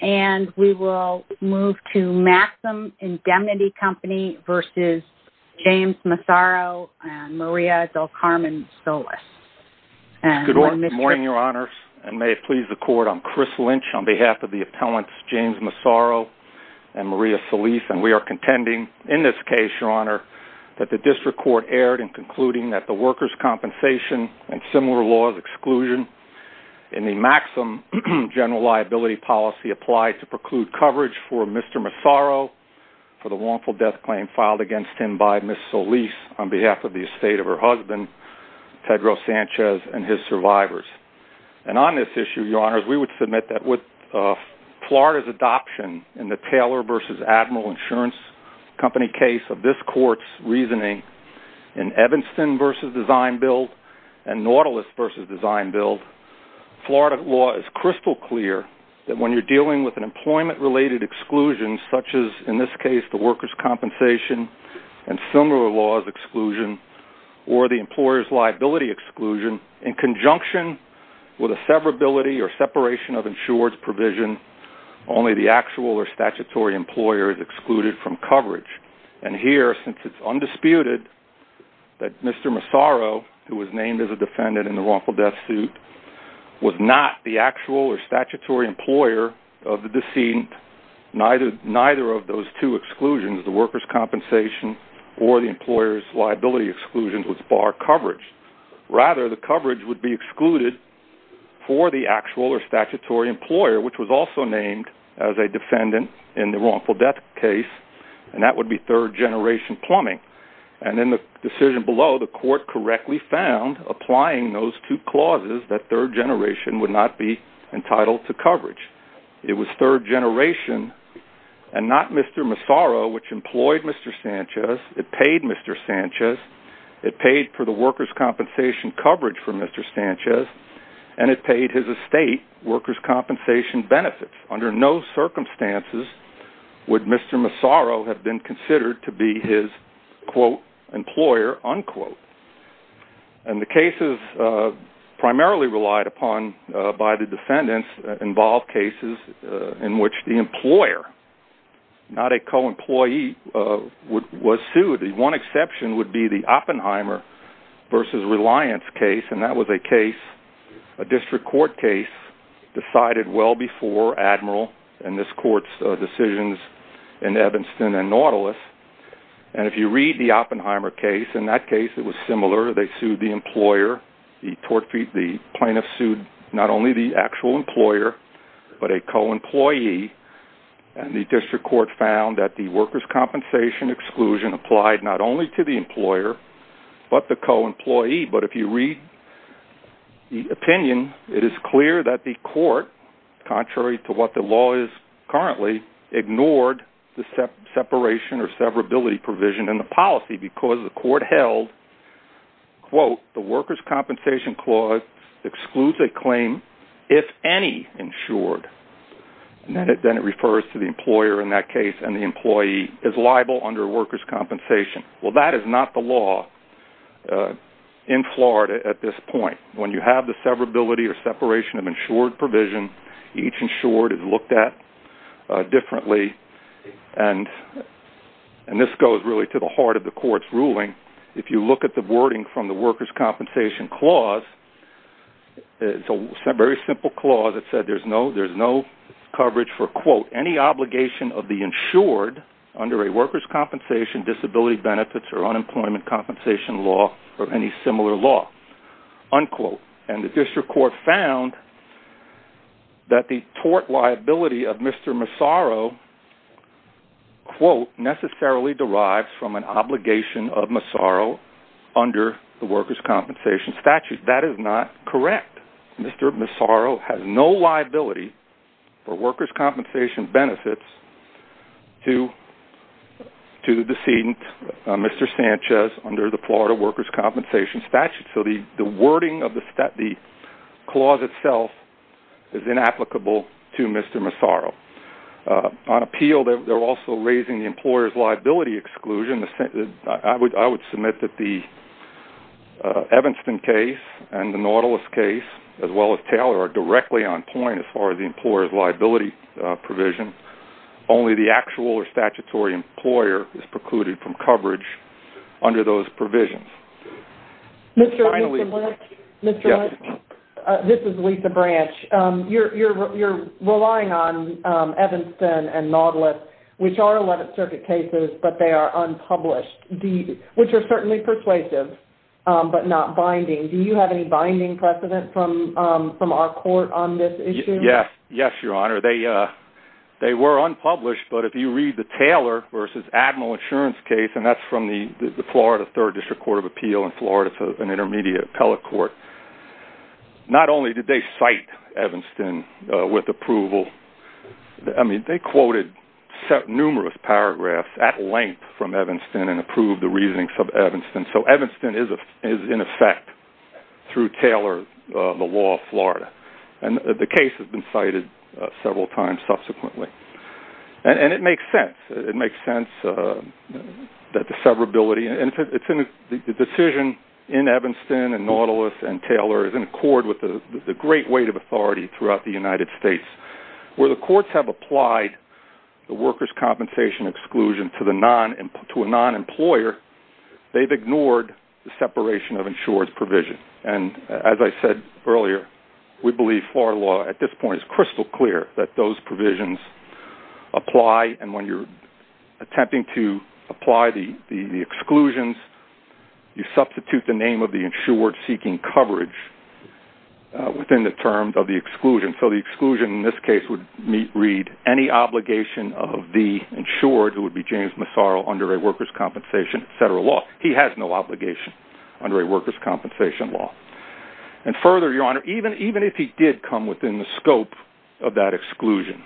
and Maria del Carmen Solis. Good morning, Your Honor, and may it please the Court, I'm Chris Lynch on behalf of the appellants James Massaro and Maria Solis, and we are contending in this case, Your Honor, that the District Court erred in concluding that the workers' compensation and similar laws exclusion in the Maxim General Liability Policy Act, applied to preclude coverage for Mr. Massaro for the wrongful death claim filed against him by Ms. Solis on behalf of the estate of her husband, Pedro Sanchez, and his survivors. And on this issue, Your Honor, we would submit that with Florida's adoption in the Taylor v. Admiral Insurance Company case of this Court's reasoning in Evanston v. Design-Build and you're dealing with an employment-related exclusion such as, in this case, the workers' compensation and similar laws exclusion or the employer's liability exclusion in conjunction with a severability or separation of insurance provision, only the actual or statutory employer is excluded from coverage. And here, since it's undisputed that Mr. Massaro, who was named as a defendant of the deceased, neither of those two exclusions, the workers' compensation or the employer's liability exclusion, was bar coverage. Rather, the coverage would be excluded for the actual or statutory employer, which was also named as a defendant in the wrongful death case, and that would be third-generation plumbing. And in the decision below, the Court correctly found, applying those two clauses, that third-generation would not be entitled to coverage. It was third-generation, and not Mr. Massaro, which employed Mr. Sanchez. It paid Mr. Sanchez. It paid for the workers' compensation coverage for Mr. Sanchez, and it paid his estate workers' compensation benefits. Under no circumstances would Mr. Massaro have been considered to be his, quote, employer, unquote. And the cases primarily relied upon by the defendants involved cases in which the employer, not a co-employee, was sued. One exception would be the Oppenheimer v. Reliance case, and that was a case, a district court case, decided well before Admiral and this Court's decisions in Evanston and Nautilus. And if you read the Oppenheimer case, in that case it was similar. They sued the employer. The plaintiff sued not only the actual employer, but a co-employee, and the district court found that the workers' compensation exclusion applied not only to the employer, but the co-employee. But if you read the opinion, it is clear that the court, contrary to what the law is currently, ignored the separation or severability provision in the policy because the court held, quote, the workers' compensation clause excludes a claim if any insured. And then it refers to the employer in that case, and the employee is liable under workers' compensation. Well, that is not the law in Florida at this point. When you have the severability or separation of insured provision, each insured is looked at differently, and this goes really to the heart of the Court's ruling. If you look at the wording from the workers' compensation clause, it's a very simple clause. It said there's no coverage for, quote, any obligation of the insured under a workers' compensation disability benefits or unemployment compensation law or any similar law, unquote. And the district court found that the tort liability of Mr. Massaro, quote, necessarily derives from an obligation of Massaro under the workers' compensation statute. That is not correct. Mr. Massaro has no liability for workers' compensation benefits to the decedent, Mr. Sanchez, under the Florida workers' compensation statute. So the wording of the clause itself is inapplicable to Mr. Massaro. On appeal, they're also raising the employer's liability exclusion. I would submit that the Evanston case and the Nautilus case, as well as Taylor, are directly on point as far as the employer's liability provision. Only the actual or statutory employer is precluded from coverage under those provisions. This is Lisa Branch. You're relying on Evanston and Nautilus, which are 11th Circuit cases, but they are unpublished, which are certainly persuasive, but not binding. Do you have any binding precedent from our court on this issue? Yes, Your Honor. They were unpublished, but if you read the Taylor v. Admiral Insurance case, and that's from the Florida 3rd District Court of Appeal in Florida, an intermediate appellate court, not only did they cite Evanston with approval. I mean, they quoted numerous paragraphs at length from Evanston and approved the reasoning from Evanston. So Evanston is in effect through Taylor, the law of Florida. And the case has been cited several times subsequently. And it makes sense that the severability and the decision in Evanston and Nautilus and Taylor is in accord with the great weight of authority throughout the United States. Where the courts have applied the workers' compensation exclusion to a non-employer, they've ignored the separation of insurance provision. And as I said earlier, we believe Florida law at this point is attempting to apply the exclusions. You substitute the name of the insured seeking coverage within the terms of the exclusion. So the exclusion in this case would read any obligation of the insured, who would be James Massaro, under a workers' compensation, etc. law. He has no obligation under a workers' compensation law. And further, Your Honor, even if he did come within the scope of that exclusion.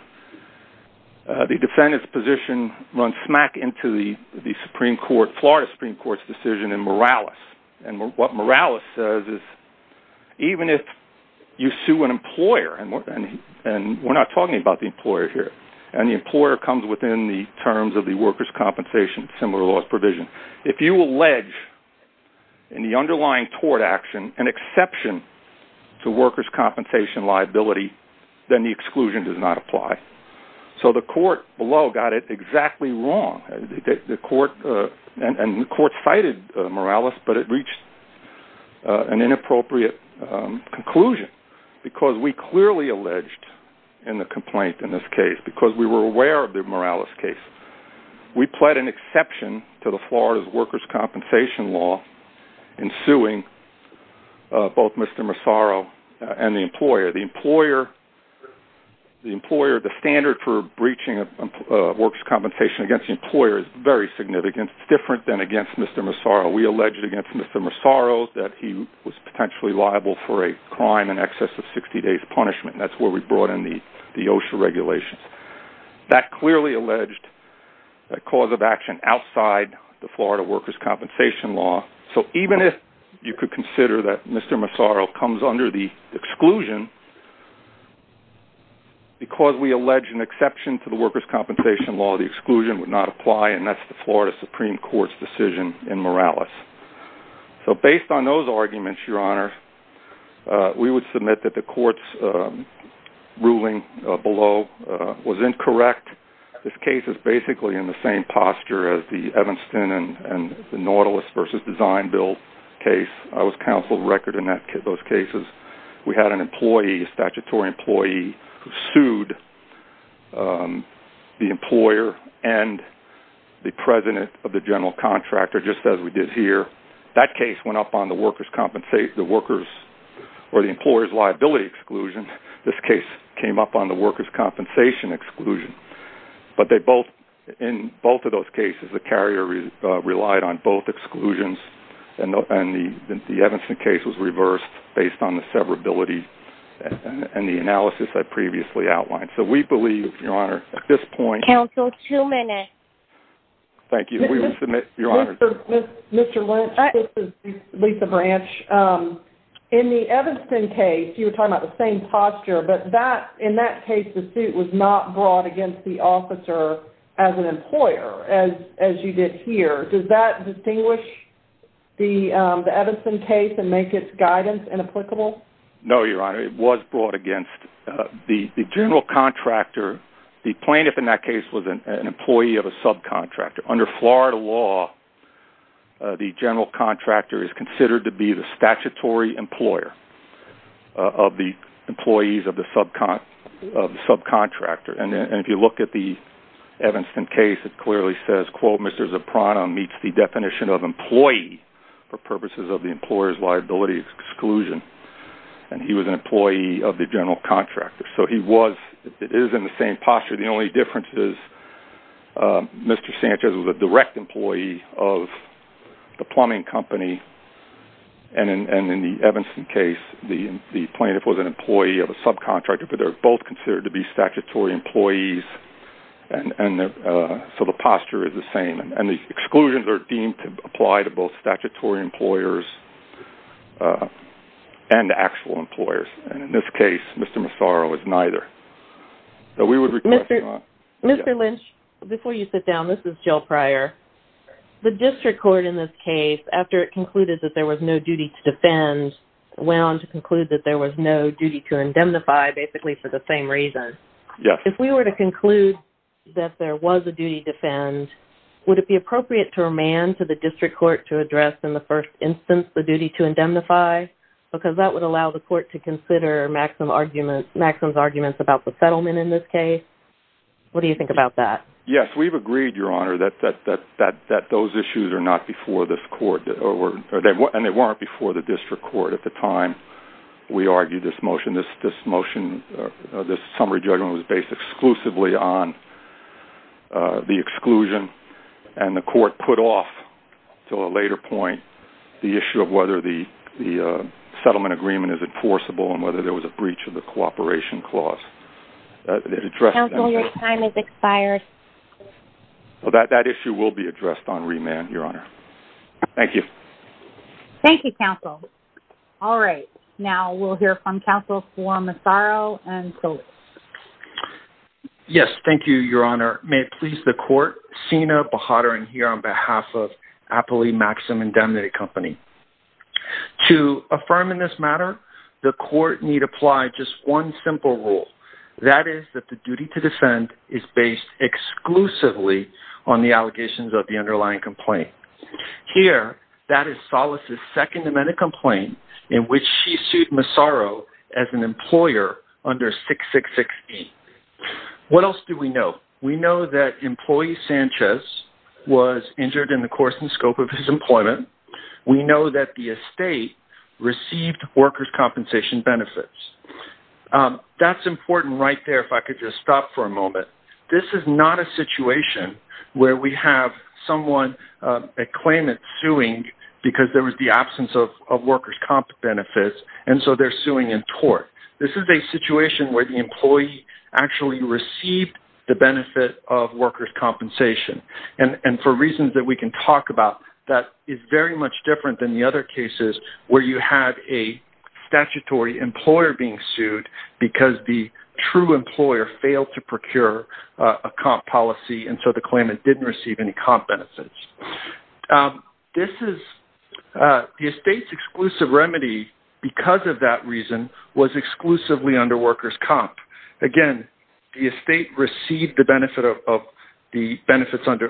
The defendant's position runs smack into the Florida Supreme Court's decision in Morales. And what Morales says is, even if you sue an employer and we're not talking about the employer here. And the employer comes within the terms of the workers' compensation similar laws provision. If you allege in the underlying tort action an exception to workers' compensation liability, then the exclusion does not apply. So the court below got it exactly wrong. And the court cited Morales, but it reached an inappropriate conclusion because we clearly alleged in the complaint in this case, because we were aware of the Morales case, we pled an exception to the Florida's workers' compensation law in suing both Mr. Massaro and the employer. The employer, the standard for breaching workers' compensation against the employer is very significant. It's different than against Mr. Massaro. We alleged against Mr. Massaro that he was potentially liable for a crime in excess of 60 days punishment. And that's where we brought in the OSHA regulations. That clearly alleged a cause of action outside the Florida workers' compensation law. So even if you could consider that Mr. Massaro comes under the exclusion, because we allege an exception to the workers' compensation law, the exclusion would not apply. And that's the Florida Supreme Court's decision in Morales. So based on those arguments, Your Honor, we would submit that the court's ruling below was incorrect. This case is basically in the same posture as the Evanston and the Nautilus v. Design Bill case. I was counsel of record in those cases. We had an employee, a statutory employee, who sued the employer and the president of the general contractor, just as we did here. That case went up on the employers' liability exclusion. This case came up on the workers' compensation exclusion. But in both of those cases, the carrier relied on both exclusions. And the Evanston case was reversed based on the severability and the analysis I previously outlined. So we believe, Your Honor, at this point... Counsel, two minutes. Thank you. We would submit, Your Honor... Mr. Lynch, this is Lisa Branch. In the Evanston case, you were talking about the same posture. But in that case, the suit was not brought against the officer as an employer, as you did here. Does that distinguish the Evanston case and make its guidance inapplicable? No, Your Honor. It was brought against the general contractor. The plaintiff in that case was an employee of a subcontractor. Under Florida law, the general contractor is considered to be the statutory employer of the employees of the subcontractor. And if you look at the Evanston case, the plaintiff's posture meets the definition of employee for purposes of the employer's liability exclusion. And he was an employee of the general contractor. So he was... It is in the same posture. The only difference is Mr. Sanchez was a direct employee of the plumbing company. And in the Evanston case, the plaintiff was an employee of a subcontractor. But they're both considered to be statutory employees. So the posture is the same. And the exclusions are deemed to apply to both statutory employers and actual employers. And in this case, Mr. Massaro was neither. So we would request... Mr. Lynch, before you sit down, this is Jill Pryor. The district court in this case, after it concluded that there was no duty to defend, went on to conclude that there was no duty to indemnify, basically for the same reason. Yes. If we were to conclude that there was a duty to defend, would it be appropriate to remand to the district court to address in the first instance the duty to indemnify? Because that would allow the court to consider Maxim's arguments about the settlement in this case. What do you think about that? Yes, we've agreed, Your Honor, that those issues are not before this court. And they weren't before the district court at the time we argued this motion. This summary judgment was based exclusively on the exclusion. And the court put off until a later point the issue of whether the settlement agreement is enforceable and whether there was a breach of the Well, that issue will be addressed on remand, Your Honor. Thank you. Thank you, counsel. All right. Now we'll hear from counsel for Massaro and Coley. Yes, thank you, Your Honor. May it please the court, Sina Bahadurin here on behalf of Appley Maxim Indemnity Company. To affirm in this matter, the court need apply just one simple rule. That is that the duty to defend is based exclusively on the allegations of the underlying complaint. Here, that is Solis' Second Amendment complaint in which she sued Massaro as an employer under 6668. What else do we know? We know that employee Sanchez was injured in the course and scope of his employment. We know that the estate received workers' compensation benefits. That's important right there if I could just stop for a moment. This is not a situation where we have someone at claimant suing because there was the absence of workers' comp benefits and so they're suing in tort. This is a situation where the employee actually received the benefit of workers' compensation and for reasons that we can talk about, that is very much different than the other cases where you have a statutory employer being sued because the true employer failed to procure a comp policy and so the claimant didn't receive any comp benefits. This is the estate's exclusive remedy because of that reason was exclusively under workers' comp. Again, the estate received the benefits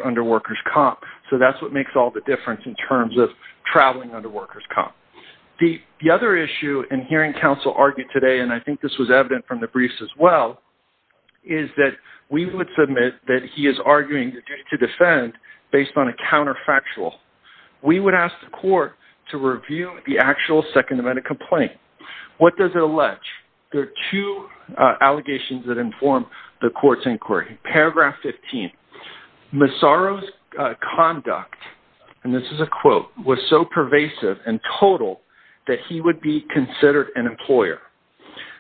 under workers' comp so that's what makes all the difference in terms of traveling under workers' comp. The other issue in hearing counsel argued today, and I think this was evident from the briefs as well, is that we would submit that he is arguing the duty to defend based on a counterfactual. We would ask the court to review the actual second amendment complaint. What does it allege? There are two allegations that inform the court's inquiry. Paragraph 15, Massaro's conduct, and this is a quote, was so pervasive and total that he would be considered an employer.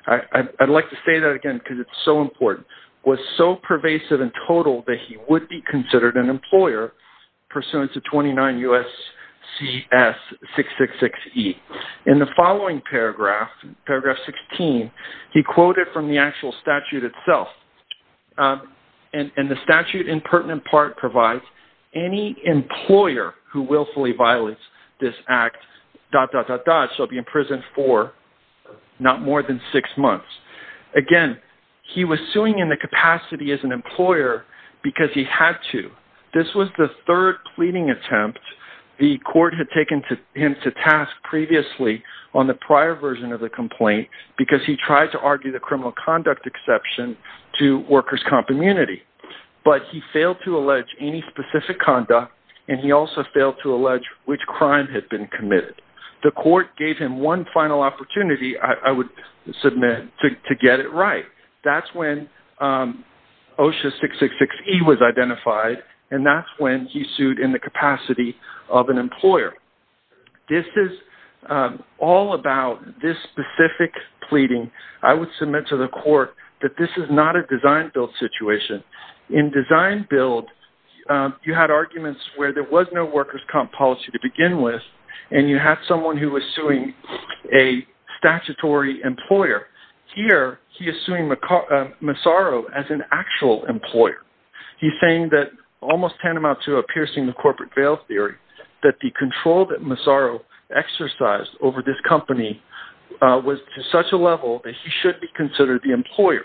I'd like to say that again because it's so important. Was so pervasive and total that he would be considered an employer pursuant to 29 U.S.C.S.666E. In the following paragraph, paragraph 16, he quoted from the actual statute itself, and the statute in pertinent part provides any employer who willfully violates this act dot dot dot dot shall be imprisoned for not more than six months. Again, he was suing in the capacity as an employer because he had to. This was the third pleading attempt the court had taken him to task previously on the prior version of the complaint because he tried to argue the criminal conduct exception to workers' comp immunity. But he failed to allege any specific conduct, and he also failed to allege which crime had been committed. The court gave him one final opportunity, I would submit, to get it right. That's when OSHA 666E was identified, and that's when he sued in the capacity of an employer. This is all about this specific pleading. I would submit to the court that this is not a design-build situation. In design-build, you had arguments where there was no workers' comp policy to begin with, and you had someone who was suing a statutory employer. Here, he is suing Massaro as an actual employer. He's saying that almost tantamount to a piercing the corporate veil theory, that the control that Massaro exercised over this company was to such a level that he should be considered the employer,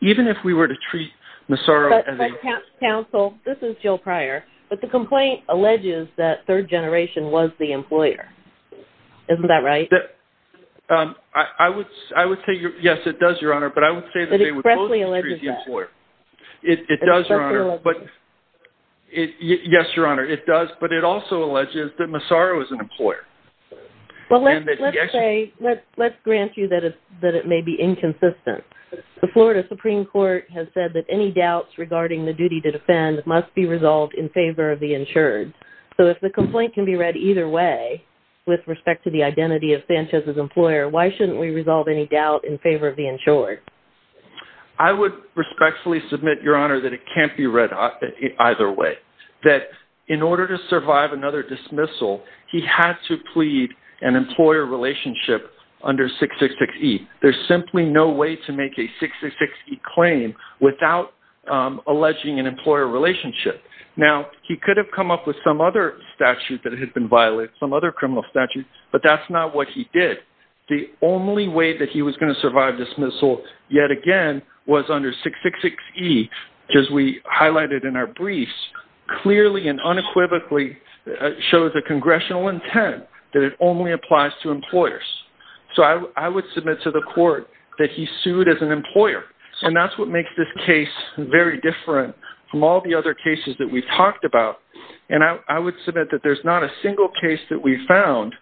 even if we were to treat Massaro as a... But, counsel, this is Jill Pryor, but the complaint alleges that third generation was the employer. Isn't that right? I would say, yes, it does, Your Honor, but I would say... It expressly alleges that. Yes, Your Honor, it does, but it also alleges that Massaro is an employer. Well, let's grant you that it may be inconsistent. The Florida Supreme Court has said that any doubts regarding the duty to defend must be resolved in favor of the insured. So if the complaint can be read either way with respect to the identity of Sanchez's employer, why shouldn't we resolve any doubt in favor of the insured? I would respectfully submit, Your Honor, that it can't be read either way, that in order to survive another dismissal, he had to plead an employer relationship under 666E. There's simply no way to make a 666E claim without alleging an employer relationship. Now, he could have come up with some other statute that had been violated, some other criminal statute, but that's not what he did. The only way that he was going to survive dismissal yet again was under 666E, as we highlighted in our briefs, clearly and unequivocally shows a congressional intent that it only applies to employers. So I would submit to the court that he sued as an employer, and that's what makes this case very different from all the other cases that we've talked about. And I would submit that there's not a single case that we've found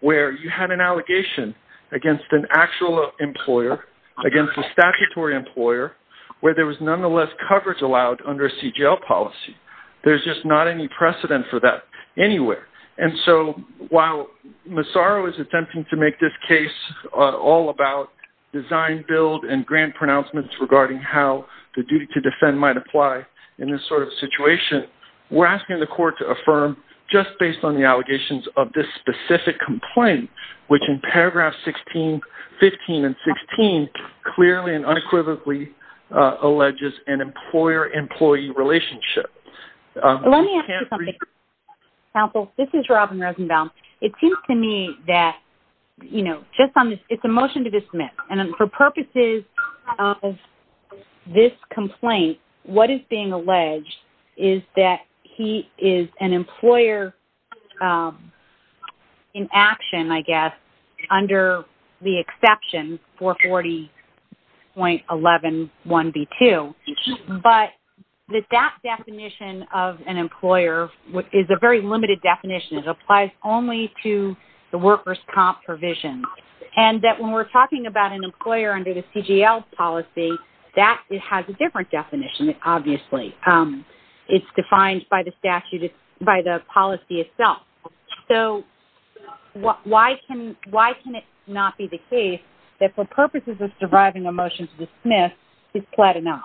where you had an allegation against an actual employer, against a statutory employer, where there was nonetheless coverage allowed under a CGL policy. There's just not any precedent for that anywhere. And so while Massaro is attempting to make this case all about design, build, and grant pronouncements regarding how the duty to defend might apply in this sort of situation, we're asking the court to affirm, just based on the allegations of this specific complaint, which in paragraphs 15 and 16 clearly and unequivocally alleges an employer-employee relationship. Let me ask you something, counsel. This is Robin Rosenbaum. It seems to me that it's a motion to dismiss, and for purposes of this complaint, what is being alleged is that he is an employer in action, I guess, under the exception 440.111b2. But that definition of an employer is a very limited definition. It applies only to the workers' comp provision. And that when we're talking about an employer under the CGL policy, that has a different definition, obviously. It's defined by the statute, by the policy itself. So why can it not be the case that for purposes of deriving a motion to dismiss, he's pled enough?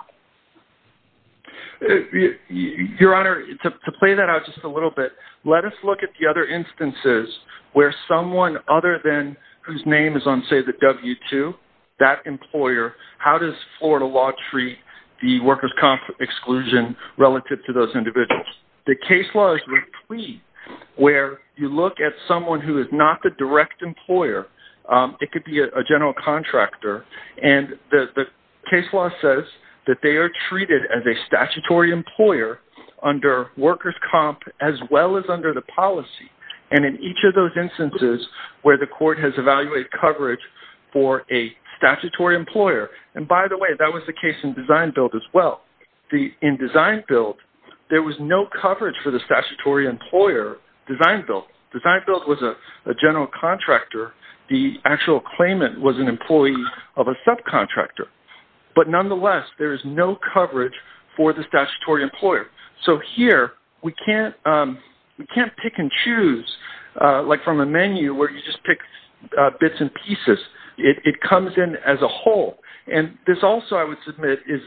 Your Honor, to play that out just a little bit, let us look at the other instances where someone other than whose name is on, say, the W-2, that employer, how does Florida law treat the workers' comp exclusion relative to those individuals? The case law is replete, where you look at someone who is not the direct employer. It could be a general contractor. And the case law says that they are treated as a statutory employer under workers' comp as well as under the policy. And in each of those instances where the court has evaluated coverage for a statutory employer, and by the way, that was the case in Design Build as well. In Design Build, there was no coverage for the actual claimant was an employee of a subcontractor. But nonetheless, there is no coverage for the statutory employer. So here, we can't pick and choose, like from a menu where you just pick bits and pieces. It comes in as a whole. And this also, I would submit, is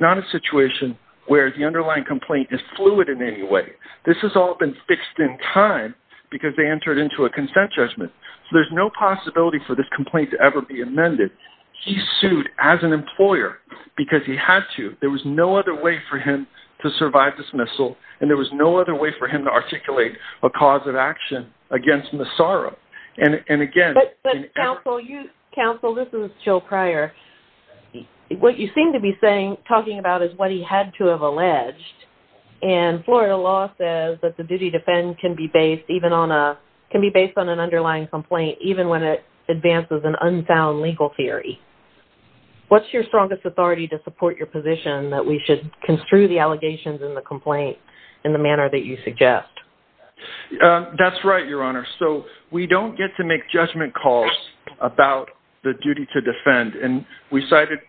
not a situation where the underlying complaint is fluid in any way. This has all been fixed in time because they entered into a consent judgment. So there's no possibility for this complaint to ever be amended. He sued as an employer because he had to. There was no other way for him to survive dismissal, and there was no other way for him to articulate a cause of action against Massara. And again... But counsel, this is Jill Pryor. What you seem to be saying is that the duty to defend can be based on an underlying complaint, even when it advances an unsound legal theory. What's your strongest authority to support your position that we should construe the allegations in the complaint in the manner that you suggest? That's right, Your Honor. So we don't get to make judgment calls about the duty to defend. And we cited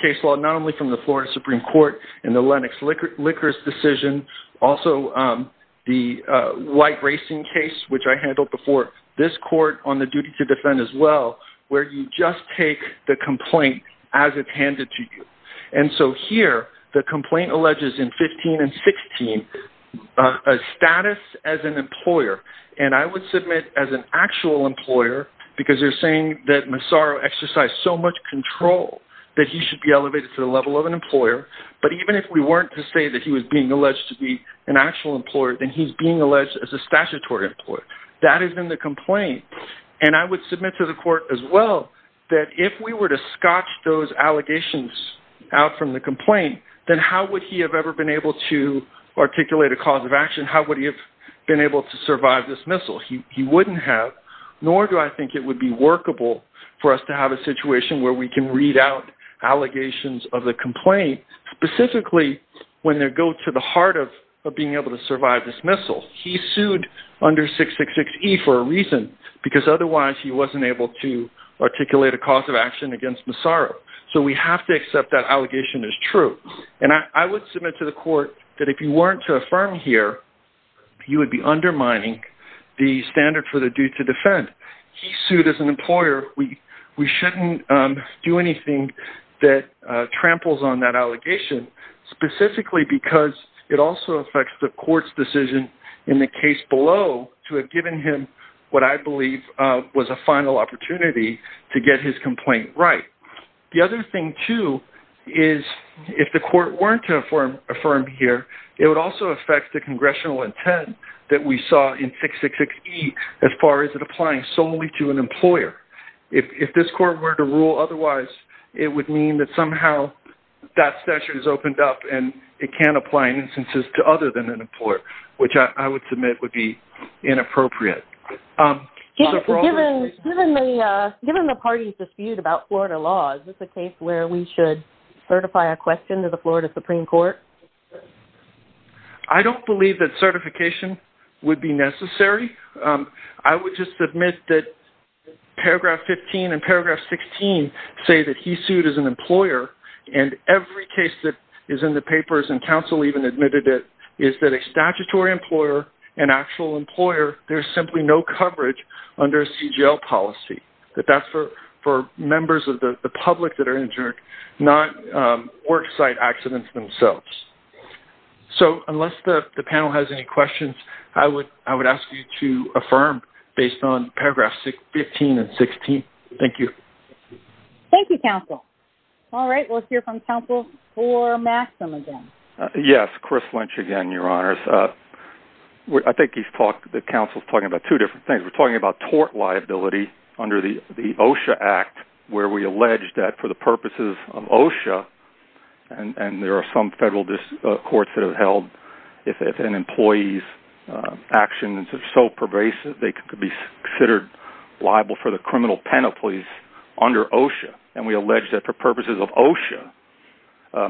case law not only from the Florida Supreme Court in the Lennox licorice decision, also the white racing case, which I handled before, this court on the duty to defend as well, where you just take the complaint as it's handed to you. And so here, the complaint alleges in 15 and 16 a status as an employer. And I would submit as an employer that he should be elevated to the level of an employer. But even if we weren't to say that he was being alleged to be an actual employer, then he's being alleged as a statutory employer. That is in the complaint. And I would submit to the court as well that if we were to scotch those allegations out from the complaint, then how would he have ever been able to articulate a cause of action? How would he have been able to survive dismissal? He wouldn't have, nor do I think it would be workable for us to have a situation where we can read out allegations of the complaint, specifically when they go to the heart of being able to survive dismissal. He sued under 666E for a reason, because otherwise he wasn't able to articulate a cause of action against Massaro. So we have to accept that allegation is true. And I would submit to the court that if you weren't to defend, he sued as an employer. We shouldn't do anything that tramples on that allegation, specifically because it also affects the court's decision in the case below to have given him what I believe was a final opportunity to get his complaint right. The other thing too is if the court weren't to affirm here, it would also affect the congressional intent that we saw in 666E as far as it applying solely to an employer. If this court were to rule otherwise, it would mean that somehow that statute is opened up and it can't apply in instances to other than an employer, which I would submit would be inappropriate. Given the party's dispute about Florida law, is this a case where we should certify a question to the Florida Supreme Court? I don't believe that certification would be necessary. I would just admit that paragraph 15 and paragraph 16 say that he sued as an employer. And every case that is in the papers, and counsel even admitted it, is that a statutory employer, an actual employer, there's simply no coverage under CGL policy. That's for members of the public that are injured, not worksite accidents themselves. So unless the panel has any questions, I would ask you to affirm based on paragraph 15 and 16. Thank you. Thank you, counsel. All right, let's hear from counsel for Maxim again. Yes, Chris Lynch again, your honors. I think the counsel's talking about two different things. We're talking about tort liability under the OSHA Act, where we allege that for the purposes of OSHA, and there are some federal courts that have held if an employee's actions are so pervasive, they could be considered liable for the criminal penalties under OSHA. And we allege that for purposes of OSHA,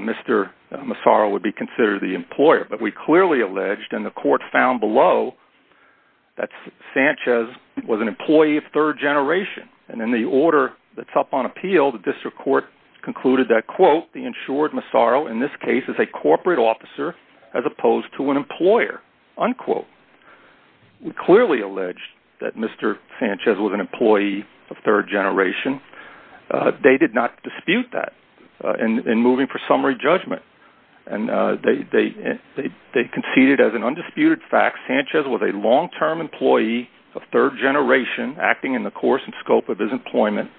Mr. Massaro would be considered the employer. But we clearly alleged, and the court found below, that Sanchez was an employee of third generation. And in the order that's up on appeal, the district court concluded that, quote, the insured Massaro in this case is a corporate officer as opposed to an employer, unquote. We clearly allege that Mr. Massaro was an employee of third generation. They did not dispute that in moving for summary judgment. And they conceded as an undisputed fact, Sanchez was a long-term employee of third generation acting in the course and scope of his employment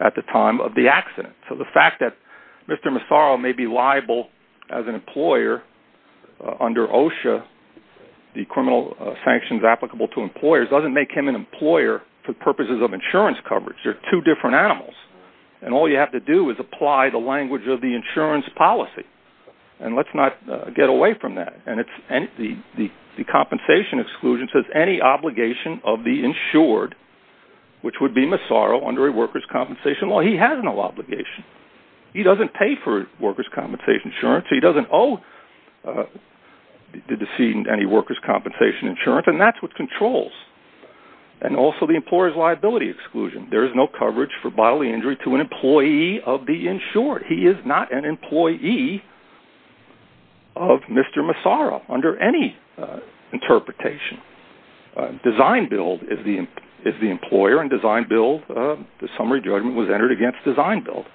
at the time of the accident. So the fact that Mr. Massaro may be liable as an employer under OSHA, the criminal sanctions applicable to employers, doesn't make him an employer for purposes of insurance coverage. They're two different animals. And all you have to do is apply the language of the insurance policy. And let's not get away from that. And the compensation exclusion says any obligation of the insured, which would be Massaro under a workers' compensation law, he has no obligation. He doesn't pay for workers' compensation insurance. He doesn't owe the decedent any workers' compensation insurance. And that's what controls. And also the employer's liability exclusion. There is no coverage for bodily injury to an employee of the insured. He is not an employee of Mr. Massaro under any interpretation. Design build is the employer in design build. The summary judgment was entered against design build.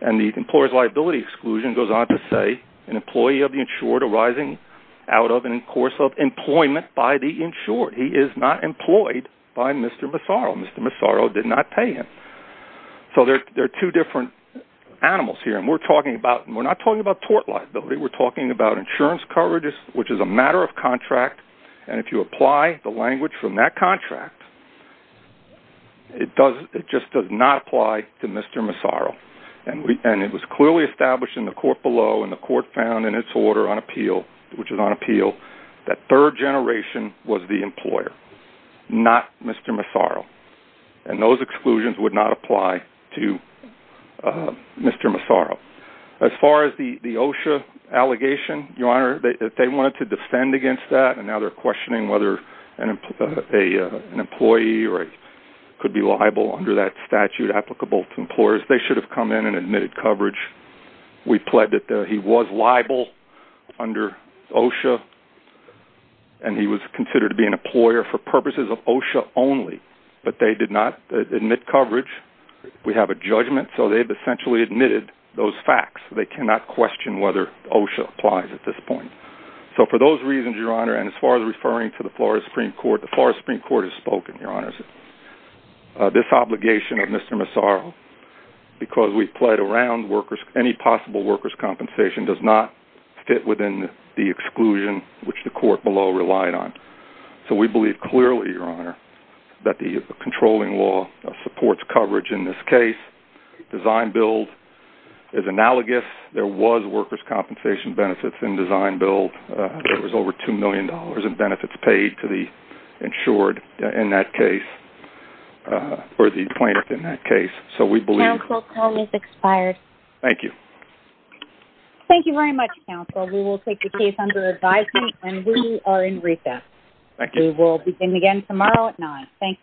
And the employer's liability exclusion goes on to say an employee of the insured arising out of and in course of employment by the insured. He is not employed by Mr. Massaro. Mr. Massaro did not pay him. So there are two different animals here. And we're not talking about tort liability. We're talking about insurance coverage, which is a matter of contract. And if you apply the language from that contract, it just does not apply to Mr. Massaro. And it was clearly established in the court below and the court found in its order on appeal, which is on appeal, that third generation was the employer, not Mr. Massaro. And those exclusions would not apply to Mr. Massaro. As far as the OSHA allegation, Your Honor, they wanted to defend against that. And now they're questioning whether an employee could be liable under that statute applicable to employers. They should have come in and admitted coverage. We plead that he was liable under OSHA. And he was considered to be an employer for purposes of OSHA only. But they did not admit coverage. We have a judgment. So they've essentially admitted those facts. They cannot question whether OSHA applies at this point. So for those reasons, Your Honor, and as far as referring to the Florida Supreme Court, the Florida Supreme Court has spoken, Your Honor. This obligation of Mr. Massaro because we pled around workers, any possible workers' compensation does not fit within the exclusion which the court below relied on. So we believe clearly, Your Honor, that the controlling law supports coverage in this case. Design-build is analogous. There was workers' compensation benefits in design-build. There was over $2 million in benefits paid to the insured in that case or the plaintiff in that case. So we believe... Thank you very much, counsel. We will take the case under advisement and we are in recess. We will begin again tomorrow at 9. Thank you.